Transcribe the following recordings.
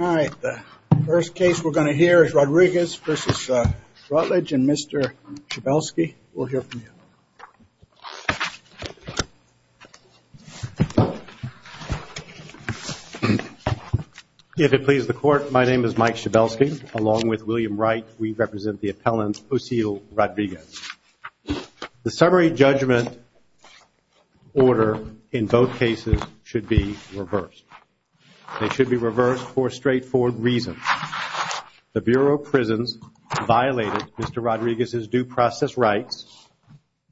All right, the first case we're going to hear is Rodriguez v. Ratledge, and Mr. Schabelsky, we'll hear from you. If it pleases the Court, my name is Mike Schabelsky, along with William Wright. We represent the appellant Osiel Rodriguez. The summary judgment order in both cases should be reversed. It should be reversed for a straightforward reason. The Bureau of Prisons violated Mr. Rodriguez's due process rights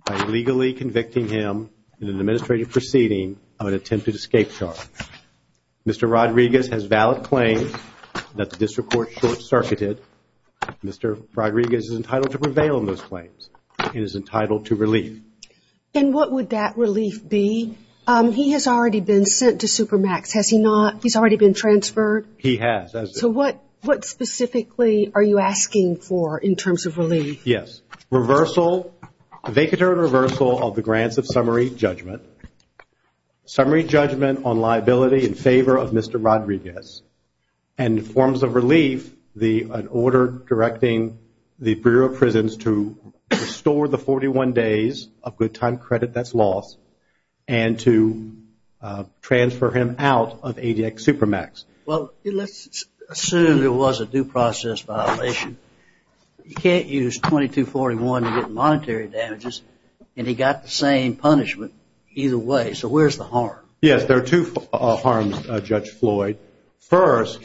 by legally convicting him in an administrative proceeding of an attempted escape charge. Mr. Rodriguez has valid claims that the district court short-circuited. Mr. Rodriguez is entitled to prevail in those claims and is entitled to relief. And what would that relief be? He has already been sent to Supermax. Has he not? He's already been transferred? He has. So what specifically are you asking for in terms of relief? Yes. Reversal, vacatory reversal of the grants of summary judgment, summary judgment on liability in favor of Mr. Rodriguez, and forms of relief, an order directing the Bureau of Prisons to restore the 41 days of good time credit that's lost and to transfer him out of ADX Supermax. Well, let's assume there was a due process violation. You can't use 2241 to get monetary damages, and he got the same punishment either way. So where's the harm? Yes, there are two harms, Judge Floyd. First,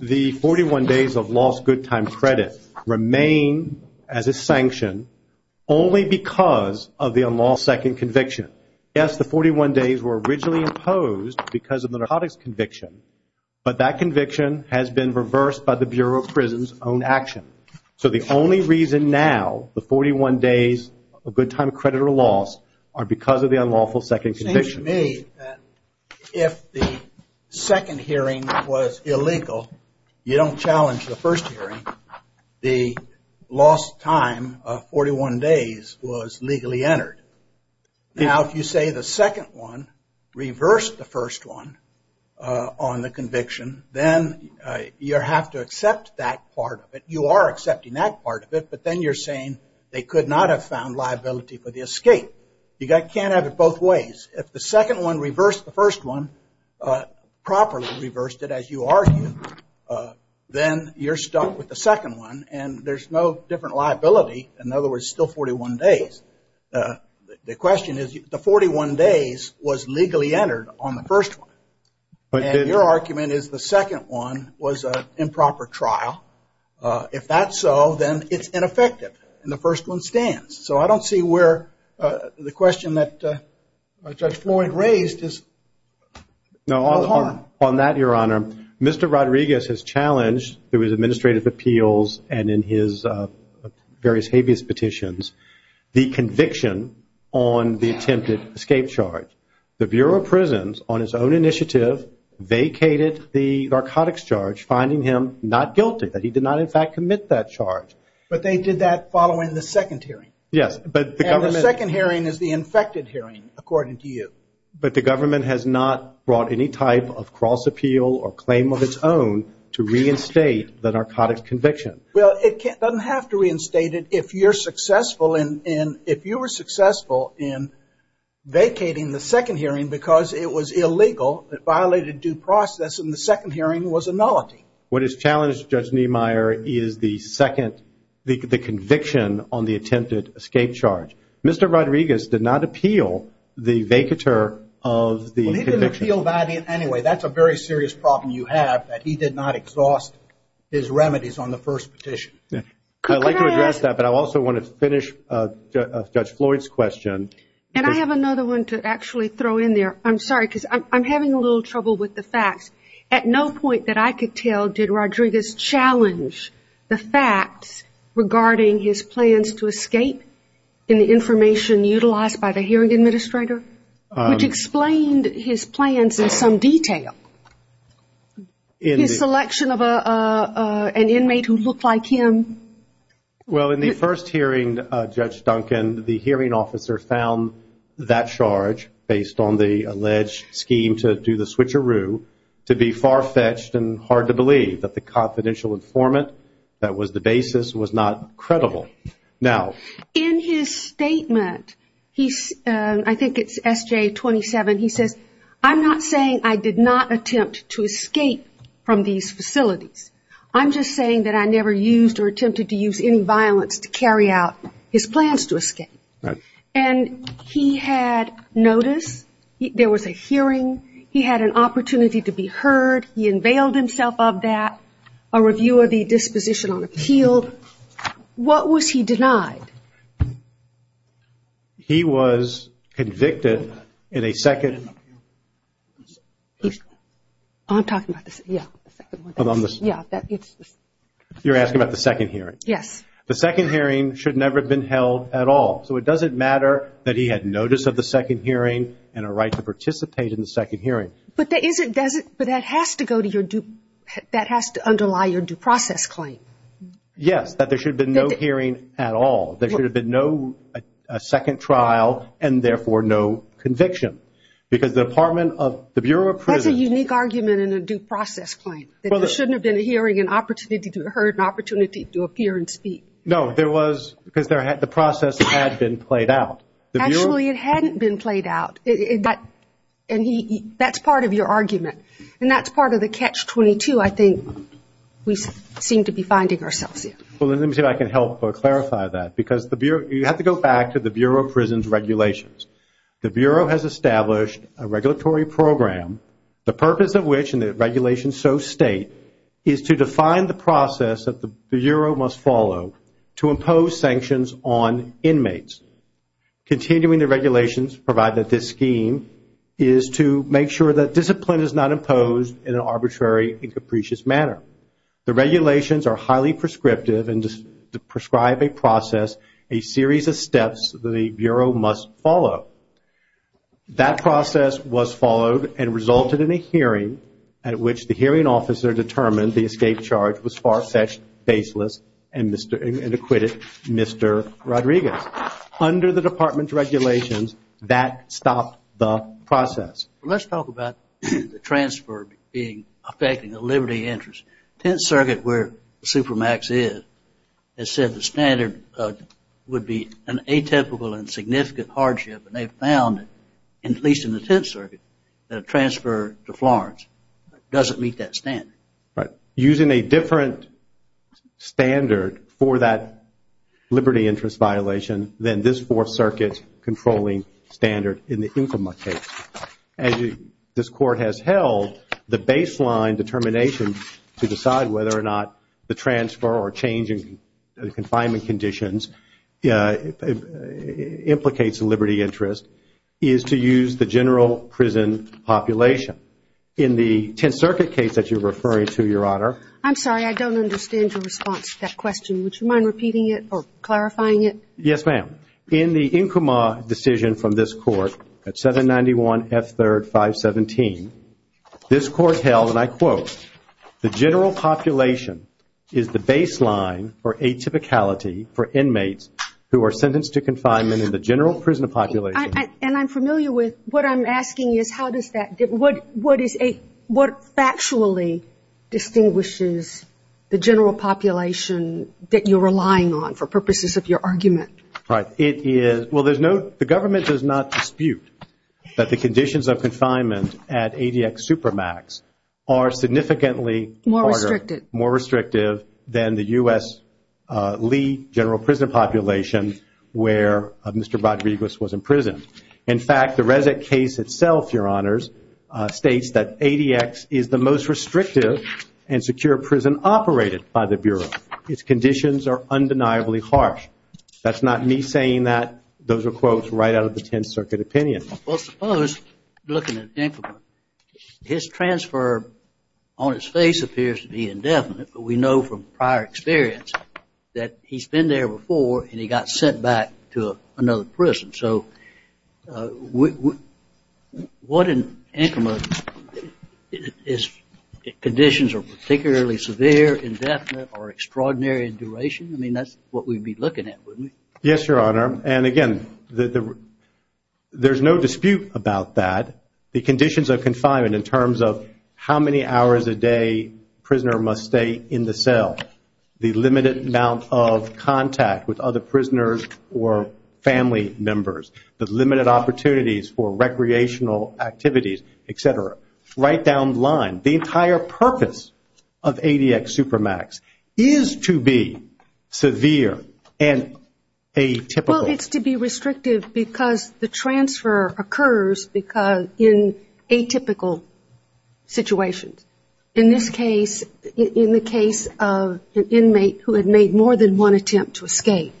the 41 days of lost good time credit remain as a sanction only because of the unlawful second conviction. Yes, the 41 days were originally imposed because of the narcotics conviction, but that conviction has been reversed by the Bureau of Prisons' own action. So the only reason now the 41 days of good time credit are lost are because of the unlawful second conviction. It seems to me that if the second hearing was illegal, you don't challenge the first hearing. The lost time of 41 days was legally entered. Now, if you say the second one reversed the first one on the conviction, then you have to accept that part of it. You are accepting that part of it, but then you're saying they could not have found liability for the escape. You can't have it both ways. If the second one reversed the first one, properly reversed it as you argue, then you're stuck with the second one, and there's no different liability. In other words, still 41 days. The question is, the 41 days was legally entered on the first one. And your argument is the second one was an improper trial. If that's so, then it's ineffective, and the first one stands. So I don't see where the question that Judge Floyd raised is harm. On that, Your Honor, Mr. Rodriguez has challenged, through his administrative appeals and in his various habeas petitions, the conviction on the attempted escape charge. The Bureau of Prisons, on its own initiative, vacated the narcotics charge, finding him not guilty, that he did not in fact commit that charge. But they did that following the second hearing. Yes. And the second hearing is the infected hearing, according to you. But the government has not brought any type of cross appeal or claim of its own to reinstate the narcotics conviction. Well, it doesn't have to reinstate it. If you were successful in vacating the second hearing because it was illegal, it violated due process, and the second hearing was a nullity. What has challenged Judge Niemeyer is the second, the conviction on the attempted escape charge. Mr. Rodriguez did not appeal the vacatur of the conviction. Well, he didn't appeal that anyway. That's a very serious problem you have, that he did not exhaust his remedies on the first petition. I'd like to address that, but I also want to finish Judge Floyd's question. And I have another one to actually throw in there. I'm sorry, because I'm having a little trouble with the facts. At no point that I could tell did Rodriguez challenge the facts regarding his plans to escape in the information utilized by the hearing administrator, which explained his plans in some detail. His selection of an inmate who looked like him. Well, in the first hearing, Judge Duncan, the hearing officer found that charge, based on the alleged scheme to do the switcheroo, to be far-fetched and hard to believe, that the confidential informant that was the basis was not credible. Now, in his statement, I think it's SJ27, he says, I'm not saying I did not attempt to escape from these facilities. I'm just saying that I never used or attempted to use any violence to carry out his plans to escape. And he had notice. There was a hearing. He had an opportunity to be heard. He unveiled himself of that. A review of the disposition on appeal. What was he denied? He was convicted in a second. I'm talking about the second one. You're asking about the second hearing. Yes. The second hearing should never have been held at all. So it doesn't matter that he had notice of the second hearing and a right to participate in the second hearing. But that has to underlie your due process claim. Yes, that there should have been no hearing at all. There should have been no second trial and, therefore, no conviction. That's a unique argument in a due process claim, that there shouldn't have been a hearing, an opportunity to be heard, an opportunity to appear and speak. No, there was because the process had been played out. Actually, it hadn't been played out. And that's part of your argument. And that's part of the catch-22, I think, we seem to be finding ourselves in. Well, let me see if I can help clarify that. Because you have to go back to the Bureau of Prisons regulations. The Bureau has established a regulatory program, the purpose of which, and the regulations so state, is to define the process that the Bureau must follow to impose sanctions on inmates. Continuing the regulations provided at this scheme is to make sure that discipline is not imposed in an arbitrary and capricious manner. The regulations are highly prescriptive and prescribe a process, a series of steps that the Bureau must follow. That process was followed and resulted in a hearing at which the hearing officer determined the escape charge was far-fetched, baseless, and acquitted Mr. Rodriguez. Under the department's regulations, that stopped the process. Let's talk about the transfer affecting the liberty interest. Tenth Circuit, where Supermax is, has said the standard would be an atypical and significant hardship, and they've found, at least in the Tenth Circuit, that a transfer to Florence doesn't meet that standard. Using a different standard for that liberty interest violation than this Fourth Circuit controlling standard in the Infama case. This Court has held the baseline determination to decide whether or not the transfer or change in confinement conditions implicates a liberty interest is to use the general prison population. In the Tenth Circuit case that you're referring to, Your Honor. I'm sorry, I don't understand your response to that question. Would you mind repeating it or clarifying it? Yes, ma'am. In the Infama decision from this Court at 791 F. 3rd 517, this Court held, and I quote, the general population is the baseline for atypicality for inmates who are sentenced to confinement in the general prison population. And I'm familiar with what I'm asking is how does that, what factually distinguishes the general population that you're relying on for purposes of your argument? Right. Well, there's no, the government does not dispute that the conditions of confinement at ADX Supermax are significantly more restrictive than the U.S. Lee general prison population where Mr. Rodriguez was imprisoned. In fact, the Resic case itself, Your Honors, states that ADX is the most restrictive and secure prison operated by the Bureau. Its conditions are undeniably harsh. That's not me saying that. Those are quotes right out of the Tenth Circuit opinion. Well, suppose, looking at Infama, his transfer on his face appears to be indefinite, but we know from prior experience that he's been there before and he got sent back to another prison. So what in Infama is, conditions are particularly severe, indefinite, or extraordinary in duration? I mean, that's what we'd be looking at, wouldn't we? Yes, Your Honor. And again, there's no dispute about that. The conditions of confinement in terms of how many hours a day a prisoner must stay in the cell, the limited amount of contact with other prisoners or family members, the limited opportunities for recreational activities, et cetera, right down the line, the entire purpose of ADX Supermax is to be severe and atypical. Well, it's to be restrictive because the transfer occurs in atypical situations. In this case, in the case of an inmate who had made more than one attempt to escape.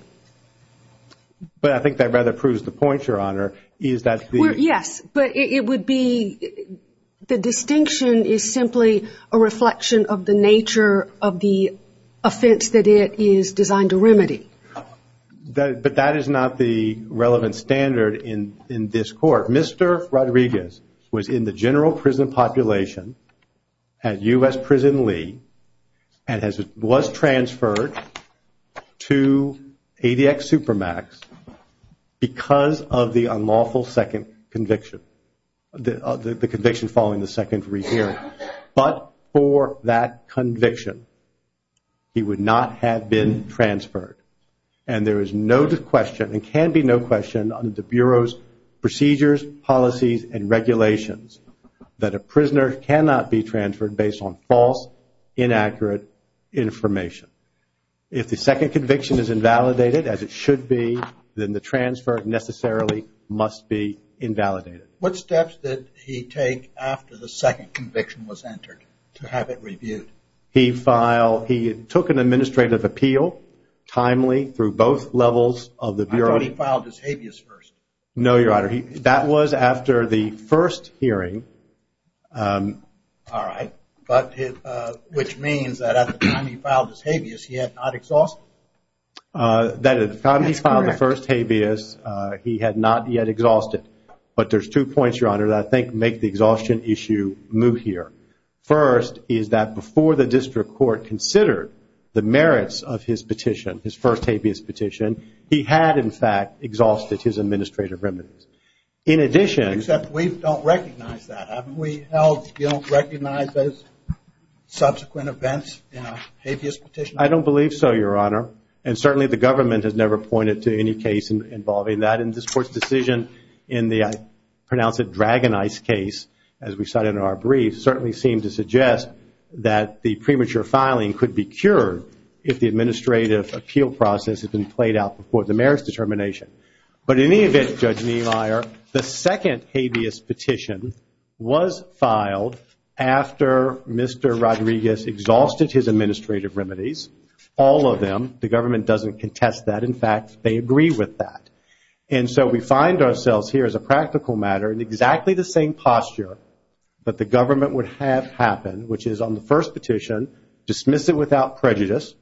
But I think that rather proves the point, Your Honor, is that the ---- The distinction is simply a reflection of the nature of the offense that it is designed to remedy. But that is not the relevant standard in this court. Mr. Rodriguez was in the general prison population at U.S. Prison Lee and was transferred to ADX Supermax because of the unlawful second conviction, the conviction following the second rehearing. But for that conviction, he would not have been transferred. And there is no question and can be no question under the Bureau's procedures, policies, and regulations that a prisoner cannot be transferred based on false, inaccurate information. If the second conviction is invalidated as it should be, then the transfer necessarily must be invalidated. What steps did he take after the second conviction was entered to have it reviewed? He took an administrative appeal timely through both levels of the Bureau. I thought he filed his habeas first. No, Your Honor, that was after the first hearing. All right. But which means that at the time he filed his habeas, he had not exhausted it. That is correct. At the time he filed the first habeas, he had not yet exhausted it. But there's two points, Your Honor, that I think make the exhaustion issue moot here. First is that before the district court considered the merits of his petition, his first habeas petition, he had, in fact, exhausted his administrative remedies. Except we don't recognize that. Haven't we held you don't recognize those subsequent events in a habeas petition? I don't believe so, Your Honor. And certainly the government has never pointed to any case involving that. And this Court's decision in the, I pronounce it, DragonEyes case, as we cited in our brief, certainly seemed to suggest that the premature filing could be cured if the administrative appeal process had been played out before the merits determination. But in any event, Judge Niemeyer, the second habeas petition was filed after Mr. Rodriguez exhausted his administrative remedies. All of them. The government doesn't contest that. In fact, they agree with that. And so we find ourselves here as a practical matter in exactly the same posture that the government would have happen, which is on the first petition, dismiss it without prejudice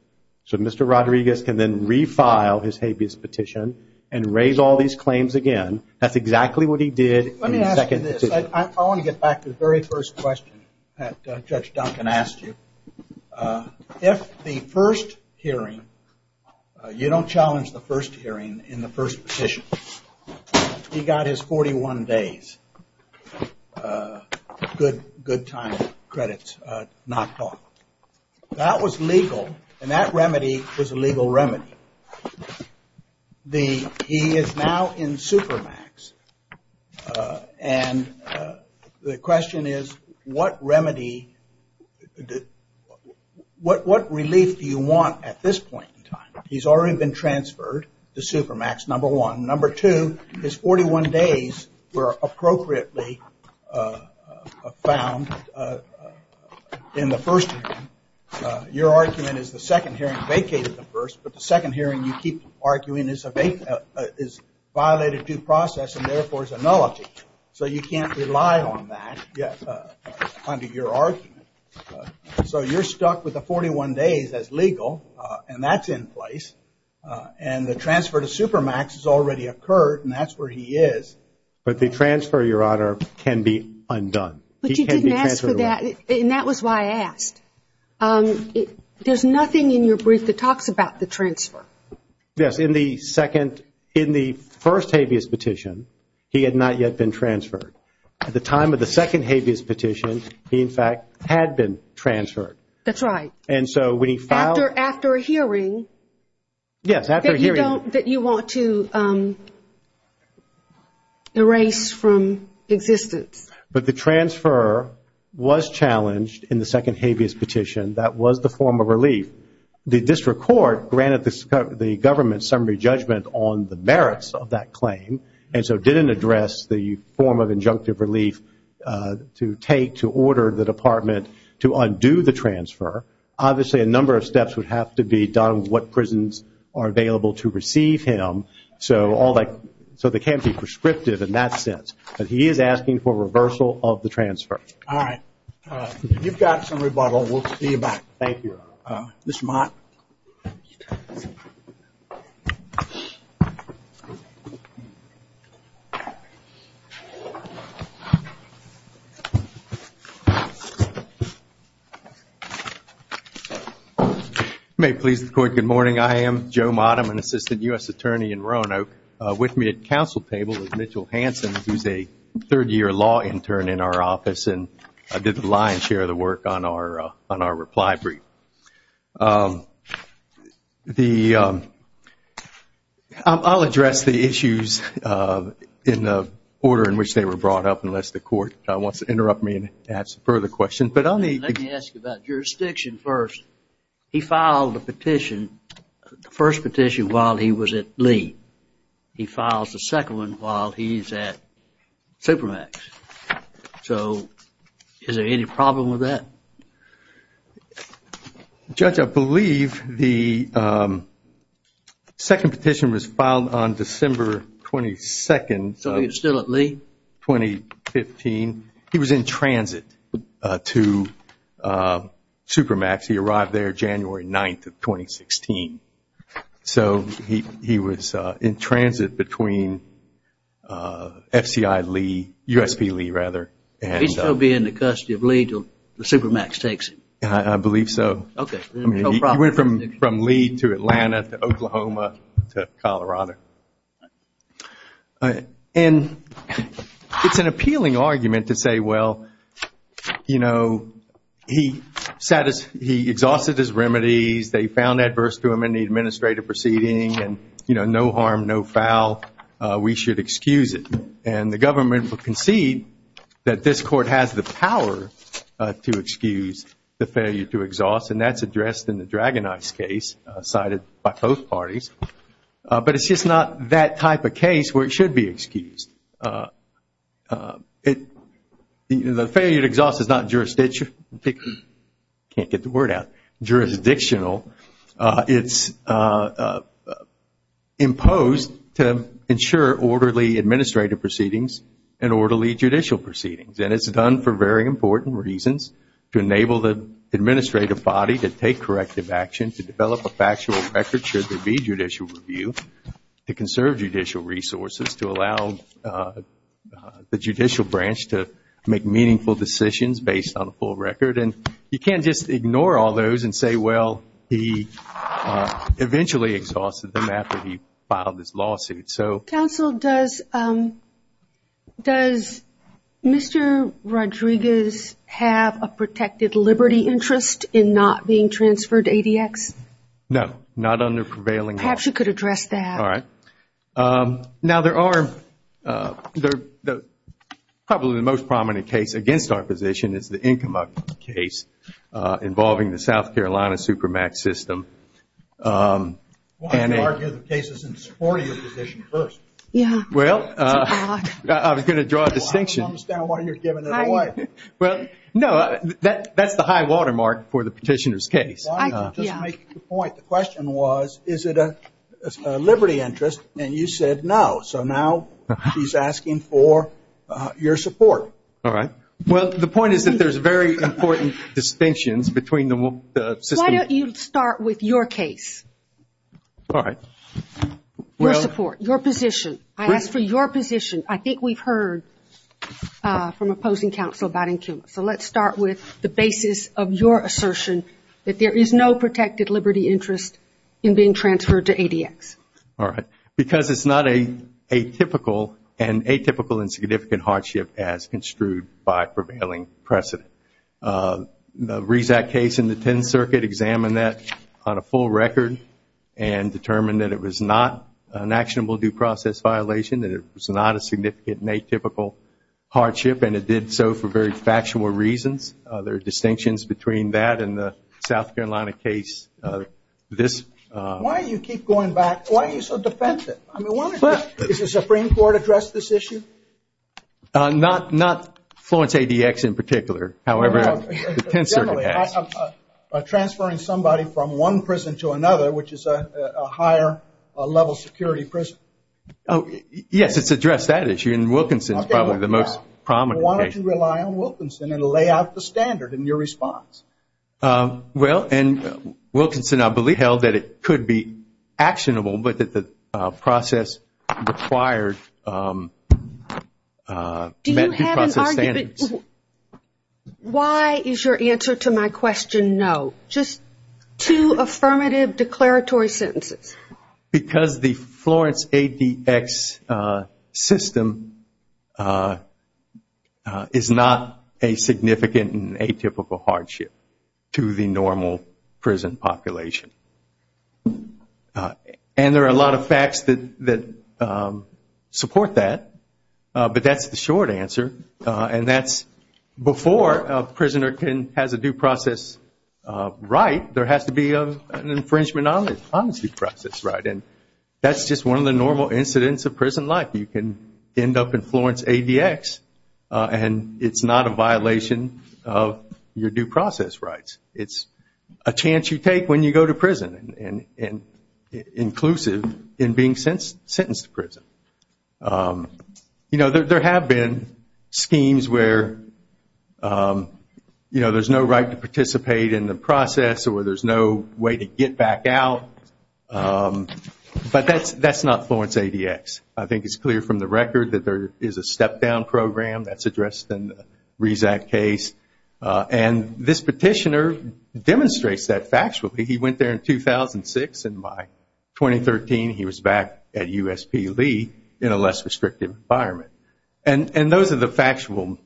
so Mr. Rodriguez can then refile his habeas petition and raise all these claims again. That's exactly what he did in the second petition. Let me ask you this. I want to get back to the very first question that Judge Duncan asked you. If the first hearing, you don't challenge the first hearing in the first petition. He got his 41 days, good time credits, knocked off. That was legal. And that remedy was a legal remedy. He is now in Supermax. And the question is, what remedy, what relief do you want at this point in time? He's already been transferred to Supermax, number one. Number two is 41 days were appropriately found in the first hearing. Your argument is the second hearing vacated the first, but the second hearing you keep arguing is violated due process and therefore is a nullity. So you can't rely on that under your argument. So you're stuck with the 41 days as legal. And that's in place. And the transfer to Supermax has already occurred, and that's where he is. But the transfer, Your Honor, can be undone. But you didn't ask for that, and that was why I asked. There's nothing in your brief that talks about the transfer. Yes, in the first habeas petition, he had not yet been transferred. At the time of the second habeas petition, he, in fact, had been transferred. That's right. After a hearing that you want to erase from existence. But the transfer was challenged in the second habeas petition. That was the form of relief. The district court granted the government summary judgment on the merits of that claim and so didn't address the form of injunctive relief to take to order the department to undo the transfer. Obviously, a number of steps would have to be done with what prisons are available to receive him. So they can't be prescriptive in that sense. But he is asking for reversal of the transfer. You've got some rebuttal. We'll see you back. Thank you. Mr. Mott. May it please the court, good morning. I am Joe Mott. I'm an assistant U.S. attorney in Roanoke. With me at the council table is Mitchell Hanson, who is a third-year law intern in our office and did the lion's share of the work on our reply brief. I'll address the issues in the order in which they were brought up, unless the court wants to interrupt me and ask further questions. Let me ask you about jurisdiction first. He filed the petition, the first petition, while he was at Lee. He files the second one while he's at Supermax. So is there any problem with that? Judge, I believe the second petition was filed on December 22nd. So he was still at Lee? 2015. He was in transit to Supermax. He arrived there January 9th of 2016. So he was in transit between F.C.I. Lee, U.S.P. Lee rather. He'd still be in the custody of Lee until Supermax takes him? I believe so. Okay. No problem. He went from Lee to Atlanta to Oklahoma to Colorado. It's an appealing argument to say, well, you know, he exhausted his remedies. They found adverse to him in the administrative proceeding. And, you know, no harm, no foul. We should excuse it. And the government will concede that this court has the power to excuse the failure to exhaust. And that's addressed in the DragonEyes case cited by both parties. But it's just not that type of case where it should be excused. The failure to exhaust is not jurisdiction. I can't get the word out. Jurisdictional. It's imposed to ensure orderly administrative proceedings and orderly judicial proceedings. And it's done for very important reasons to enable the administrative body to take corrective action, to develop a factual record should there be judicial review, to conserve judicial resources, to allow the judicial branch to make meaningful decisions based on a full record. And you can't just ignore all those and say, well, he eventually exhausted them after he filed his lawsuit. Counsel, does Mr. Rodriguez have a protected liberty interest in not being transferred to ADX? No, not under prevailing law. Perhaps you could address that. All right. Now, probably the most prominent case against our position is the Income Act case involving the South Carolina Supermax system. Why do you argue the case isn't supporting your position first? Well, I was going to draw a distinction. I don't understand why you're giving it away. Well, no, that's the high watermark for the petitioner's case. The question was, is it a liberty interest? And you said no. So now she's asking for your support. All right. Well, the point is that there's very important distinctions between the system. Why don't you start with your case? All right. Your support, your position. I asked for your position. I think we've heard from opposing counsel about income. So let's start with the basis of your assertion that there is no protected liberty interest in being transferred to ADX. All right. Because it's not an atypical and significant hardship as construed by prevailing precedent. The RESAC case in the 10th Circuit examined that on a full record and determined that it was not an actionable due process violation, that it was not a significant and atypical hardship, and it did so for very factual reasons. There are distinctions between that and the South Carolina case. Why do you keep going back? Why are you so defensive? Has the Supreme Court addressed this issue? Not Florence ADX in particular. However, the 10th Circuit has. Transferring somebody from one prison to another, which is a higher level security prison. Yes, it's addressed that issue, and Wilkinson is probably the most prominent case. Why don't you rely on Wilkinson and lay out the standard in your response? Well, and Wilkinson, I believe, held that it could be actionable, but that the process required met due process standards. Why is your answer to my question no? Just two affirmative declaratory sentences. Because the Florence ADX system is not a significant and atypical hardship to the normal prison population. And there are a lot of facts that support that, but that's the short answer. And that's before a prisoner has a due process right, there has to be an infringement on his due process right. And that's just one of the normal incidents of prison life. You can end up in Florence ADX, and it's not a violation of your due process rights. It's a chance you take when you go to prison, and inclusive in being sentenced to prison. You know, there have been schemes where there's no right to participate in the process, or there's no way to get back out. But that's not Florence ADX. I think it's clear from the record that there is a step down program that's addressed in the Rezac case. And this petitioner demonstrates that factually. He went there in 2006, and by 2013 he was back at USP Lee in a less restrictive environment. And those are the factual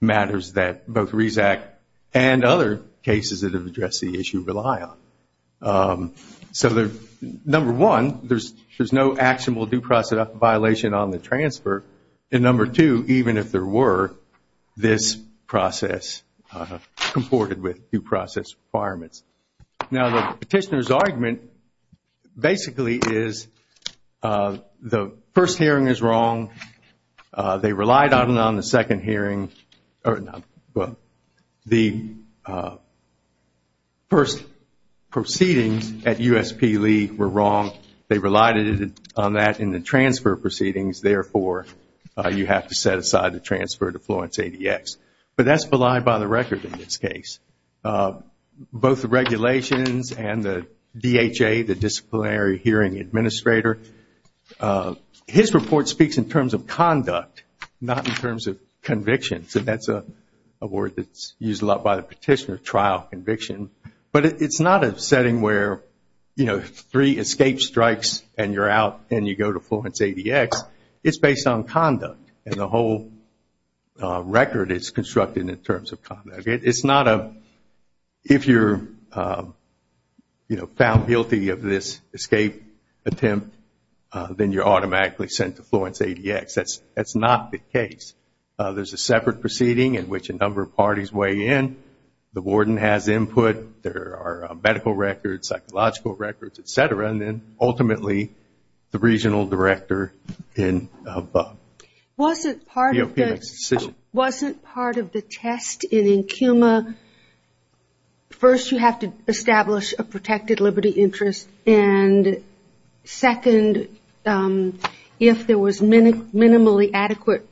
matters that both Rezac and other cases that have addressed the issue rely on. So number one, there's no actionable due process violation on the transfer. And number two, even if there were, this process comported with due process requirements. Now the petitioner's argument basically is the first hearing is wrong. They relied on it on the second hearing. The first proceedings at USP Lee were wrong. They relied on that in the transfer proceedings. Therefore, you have to set aside the transfer to Florence ADX. But that's belied by the record in this case. Both the regulations and the DHA, the Disciplinary Hearing Administrator, his report speaks in terms of conduct, not in terms of conviction. So that's a word that's used a lot by the petitioner, trial conviction. But it's not a setting where three escape strikes and you're out and you go to Florence ADX. It's based on conduct, and the whole record is constructed in terms of conduct. It's not a, if you're found guilty of this escape attempt, then you're automatically sent to Florence ADX. That's not the case. There's a separate proceeding in which a number of parties weigh in. The warden has input. There are medical records, psychological records, et cetera. And then ultimately, the regional director can vote. Wasn't part of the test in EnCUMA, first you have to establish a protected liberty interest, and second, if there was minimally adequate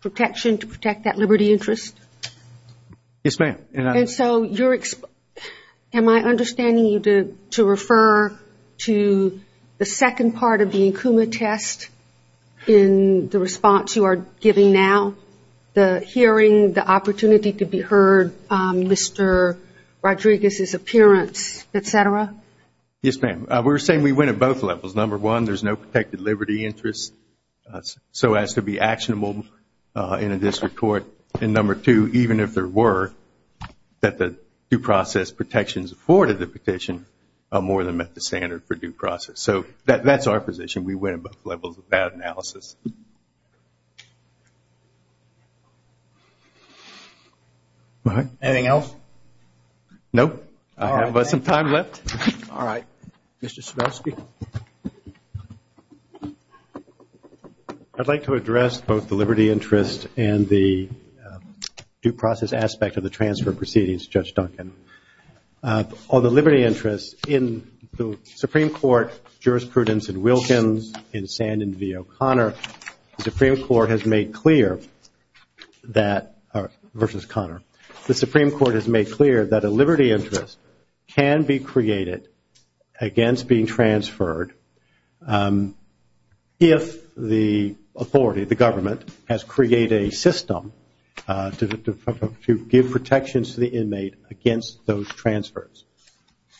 protection to protect that liberty interest? Yes, ma'am. Am I understanding you to refer to the second part of the EnCUMA test in the response you are giving now? The hearing, the opportunity to be heard, Mr. Rodriguez's appearance, et cetera? Yes, ma'am. We're saying we went at both levels. Number one, there's no protected liberty interest so as to be actionable in a district court. And number two, even if there were, that the due process protections afforded the petition are more than met the standard for due process. So that's our position. We went at both levels of that analysis. Anything else? Nope. I have some time left. All right. Mr. Svobosky. I'd like to address both the liberty interest and the due process aspect of the transfer proceedings, Judge Duncan. On the liberty interest, in the Supreme Court jurisprudence in Wilkins, in Sandin v. O'Connor, the Supreme Court has made clear that a liberty interest can be created against being transferred if the authority, the government, has created a system to give protections to the inmate against those transfers.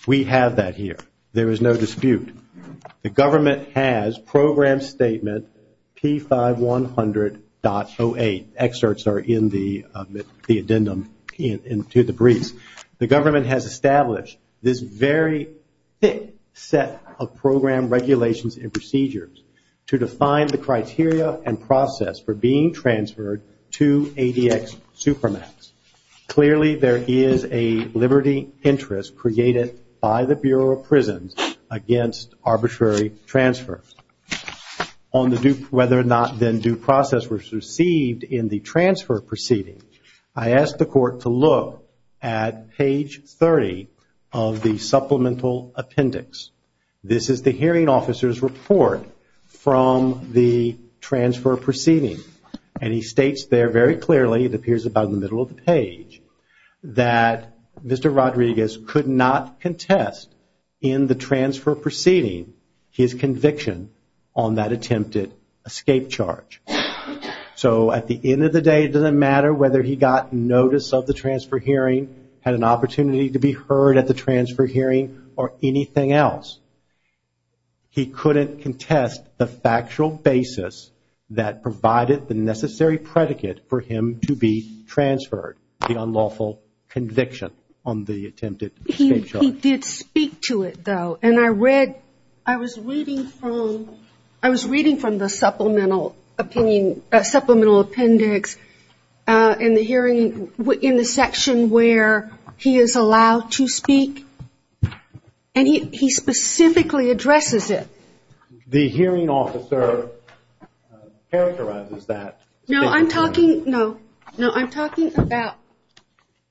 We have that here. There is no dispute. The government has program statement P5100.08. Excerpts are in the addendum to the briefs. The government has established this very thick set of program regulations and procedures to define the criteria and process for being transferred to ADX Supermax. Clearly, there is a liberty interest created by the Bureau of Prisons against arbitrary transfer. On whether or not then due process was received in the transfer proceedings, I asked the court to look at page 30 of the supplemental appendix. This is the hearing officer's report from the transfer proceedings. And he states there very clearly, it appears about in the middle of the page, that Mr. Rodriguez could not contest in the transfer proceeding his conviction on that attempted escape charge. So at the end of the day, it doesn't matter whether he got notice of the transfer hearing, had an opportunity to be heard at the transfer hearing, or anything else. He couldn't contest the factual basis that provided the necessary predicate for him to be transferred, the unlawful conviction on the attempted escape charge. He did speak to it though. And I read, I was reading from the supplemental appendix in the section where he is allowed to speak. And he specifically addresses it. The hearing officer characterizes that. No, I'm talking about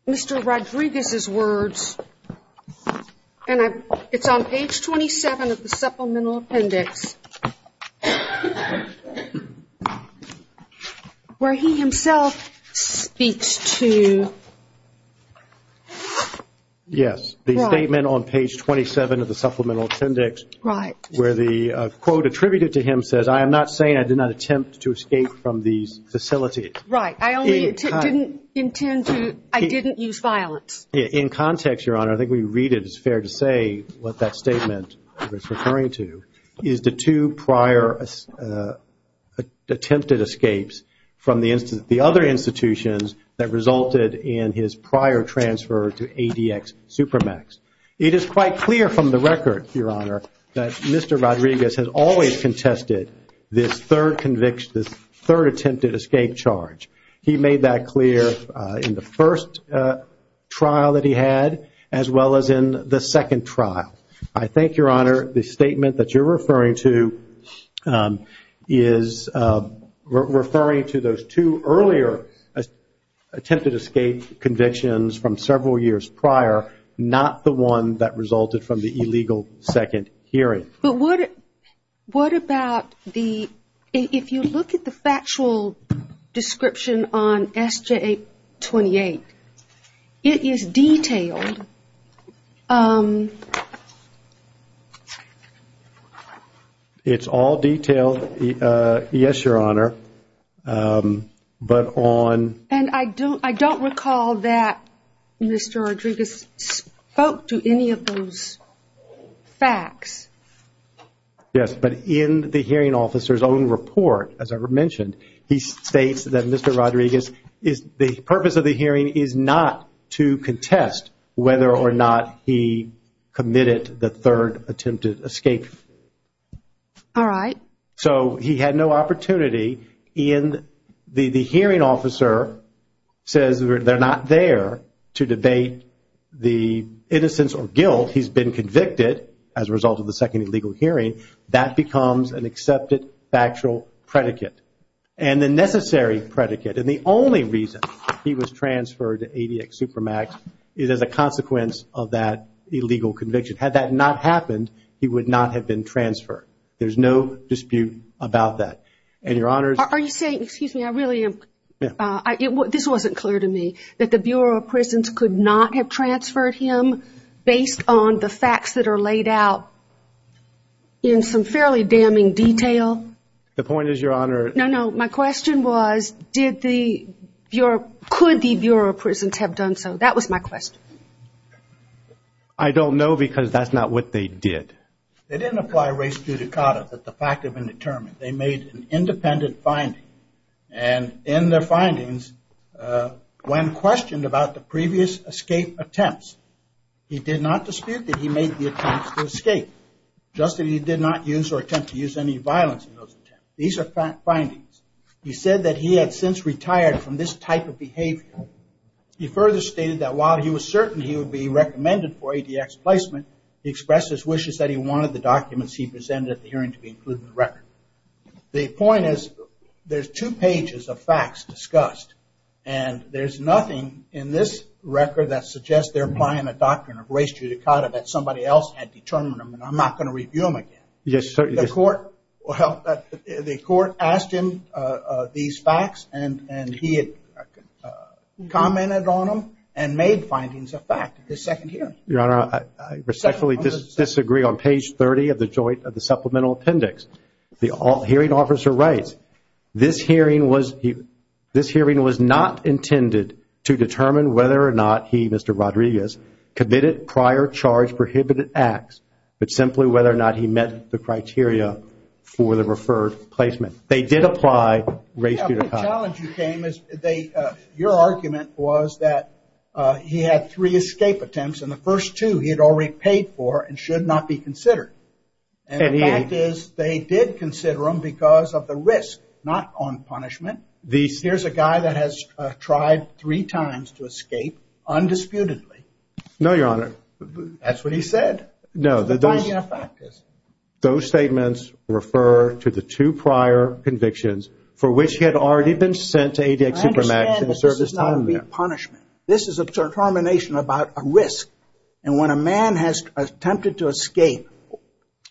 Mr. Rodriguez's words. And it's on page 27 of the supplemental appendix. Where he himself speaks to. Yes, the statement on page 27 of the supplemental appendix. Right. Where the quote attributed to him says, I am not saying I did not attempt to escape from these facilities. Right. I only didn't intend to, I didn't use violence. In context, Your Honor, I think we read it as fair to say what that statement is referring to, is the two prior attempted escapes from the other institutions that resulted in his prior transfer to ADX Supermax. It is quite clear from the record, Your Honor, that Mr. Rodriguez has always contested this third attempted escape charge. He made that clear in the first trial that he had, as well as in the second trial. I think, Your Honor, the statement that you're referring to is referring to those two earlier attempted escape convictions from several years prior, not the one that resulted from the illegal second hearing. But what about the, if you look at the factual description on SJ-28, it is detailed. It's all detailed, yes, Your Honor. But on... And I don't recall that Mr. Rodriguez spoke to any of those facts. Yes, but in the hearing officer's own report, as I mentioned, he states that Mr. Rodriguez, the purpose of the hearing is not to contest whether or not he committed the third attempted escape. All right. So he had no opportunity in... The hearing officer says they're not there to debate the innocence or guilt. He's been convicted as a result of the second illegal hearing. That becomes an accepted factual predicate. And the necessary predicate, and the only reason he was transferred to ADX Supermax, is as a consequence of that illegal conviction. Had that not happened, he would not have been transferred. There's no dispute about that. And, Your Honor... Are you saying, excuse me, I really am... This wasn't clear to me, that the Bureau of Prisons could not have transferred him based on the facts that are laid out in some fairly damning detail? The point is, Your Honor... No, no, my question was, could the Bureau of Prisons have done so? That was my question. I don't know because that's not what they did. They didn't apply res judicata, that the fact had been determined. They made an independent finding. And in their findings, when questioned about the previous escape attempts, he did not dispute that he made the attempts to escape. Just that he did not use or attempt to use any violence in those attempts. These are findings. He said that he had since retired from this type of behavior. He further stated that while he was certain he would be recommended for ADX placement, he expressed his wishes that he wanted the documents he presented at the hearing to be included in the record. The point is, there's two pages of facts discussed, and there's nothing in this record that suggests they're applying a doctrine of res judicata that somebody else had determined them, and I'm not going to review them again. The court asked him these facts, and he had commented on them and made findings of fact at the second hearing. Your Honor, I respectfully disagree on page 30 of the supplemental appendix. The hearing officer writes, this hearing was not intended to determine whether or not he, Mr. Rodriguez, committed prior charge prohibited acts, but simply whether or not he met the criteria for the referred placement. They did apply res judicata. Your argument was that he had three escape attempts, and the first two he had already paid for and should not be considered. And the fact is they did consider them because of the risk, not on punishment. Here's a guy that has tried three times to escape undisputedly. No, Your Honor. That's what he said. No, those statements refer to the two prior convictions for which he had already been sent to ADX Supermax and served his time there. I understand that this is not a repunishment. This is a determination about a risk, and when a man has attempted to escape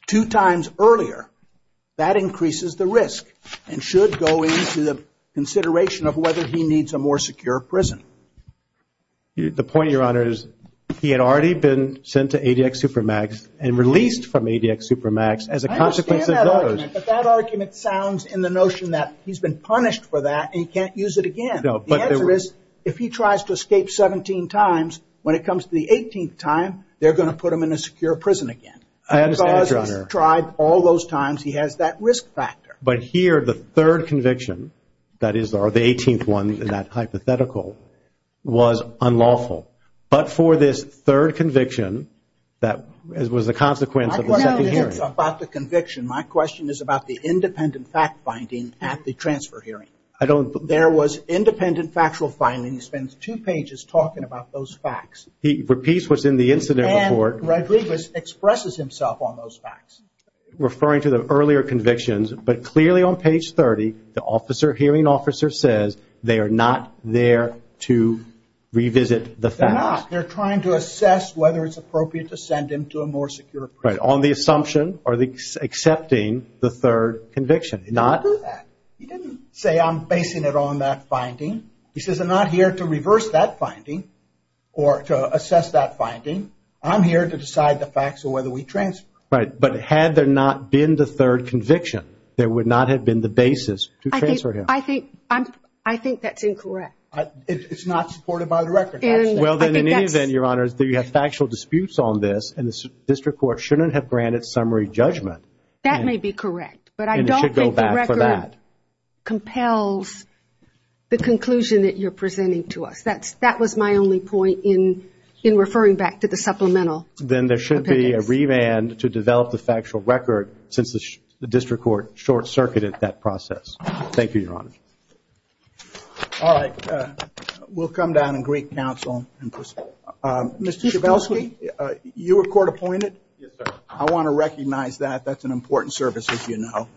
two times earlier, that increases the risk and should go into the consideration of whether he needs a more secure prison. The point, Your Honor, is he had already been sent to ADX Supermax and released from ADX Supermax as a consequence of those. I understand that argument, but that argument sounds in the notion that he's been punished for that and he can't use it again. The answer is if he tries to escape 17 times, when it comes to the 18th time, they're going to put him in a secure prison again. I understand, Your Honor. Because he's tried all those times, he has that risk factor. But here, the third conviction, that is the 18th one, that hypothetical, was unlawful. But for this third conviction, that was a consequence of the second hearing. My question isn't about the conviction. My question is about the independent fact-finding at the transfer hearing. There was independent factual finding. He spends two pages talking about those facts. He repeats what's in the incident report. And Rodriguez expresses himself on those facts. Referring to the earlier convictions, but clearly on page 30, the hearing officer says they are not there to revisit the facts. They're not. They're trying to assess whether it's appropriate to send him to a more secure prison. Right, on the assumption or accepting the third conviction. He didn't do that. He didn't say, I'm basing it on that finding. He says, I'm not here to reverse that finding or to assess that finding. I'm here to decide the facts of whether we transfer. Right, but had there not been the third conviction, there would not have been the basis to transfer him. I think that's incorrect. It's not supported by the record. Well, then, in any event, Your Honor, you have factual disputes on this and the district court shouldn't have granted summary judgment. That may be correct, but I don't think the record compels the conclusion that you're presenting to us. That was my only point in referring back to the supplemental. Then there should be a remand to develop the factual record since the district court short-circuited that process. Thank you, Your Honor. All right. We'll come down in Greek counsel and proceed. Mr. Schabelsky, you were court appointed. Yes, sir. I want to recognize that. That's an important service, as you know,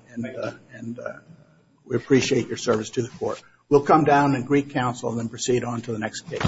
and we appreciate your service to the court. We'll come down in Greek counsel and then proceed on to the next case. Thank you.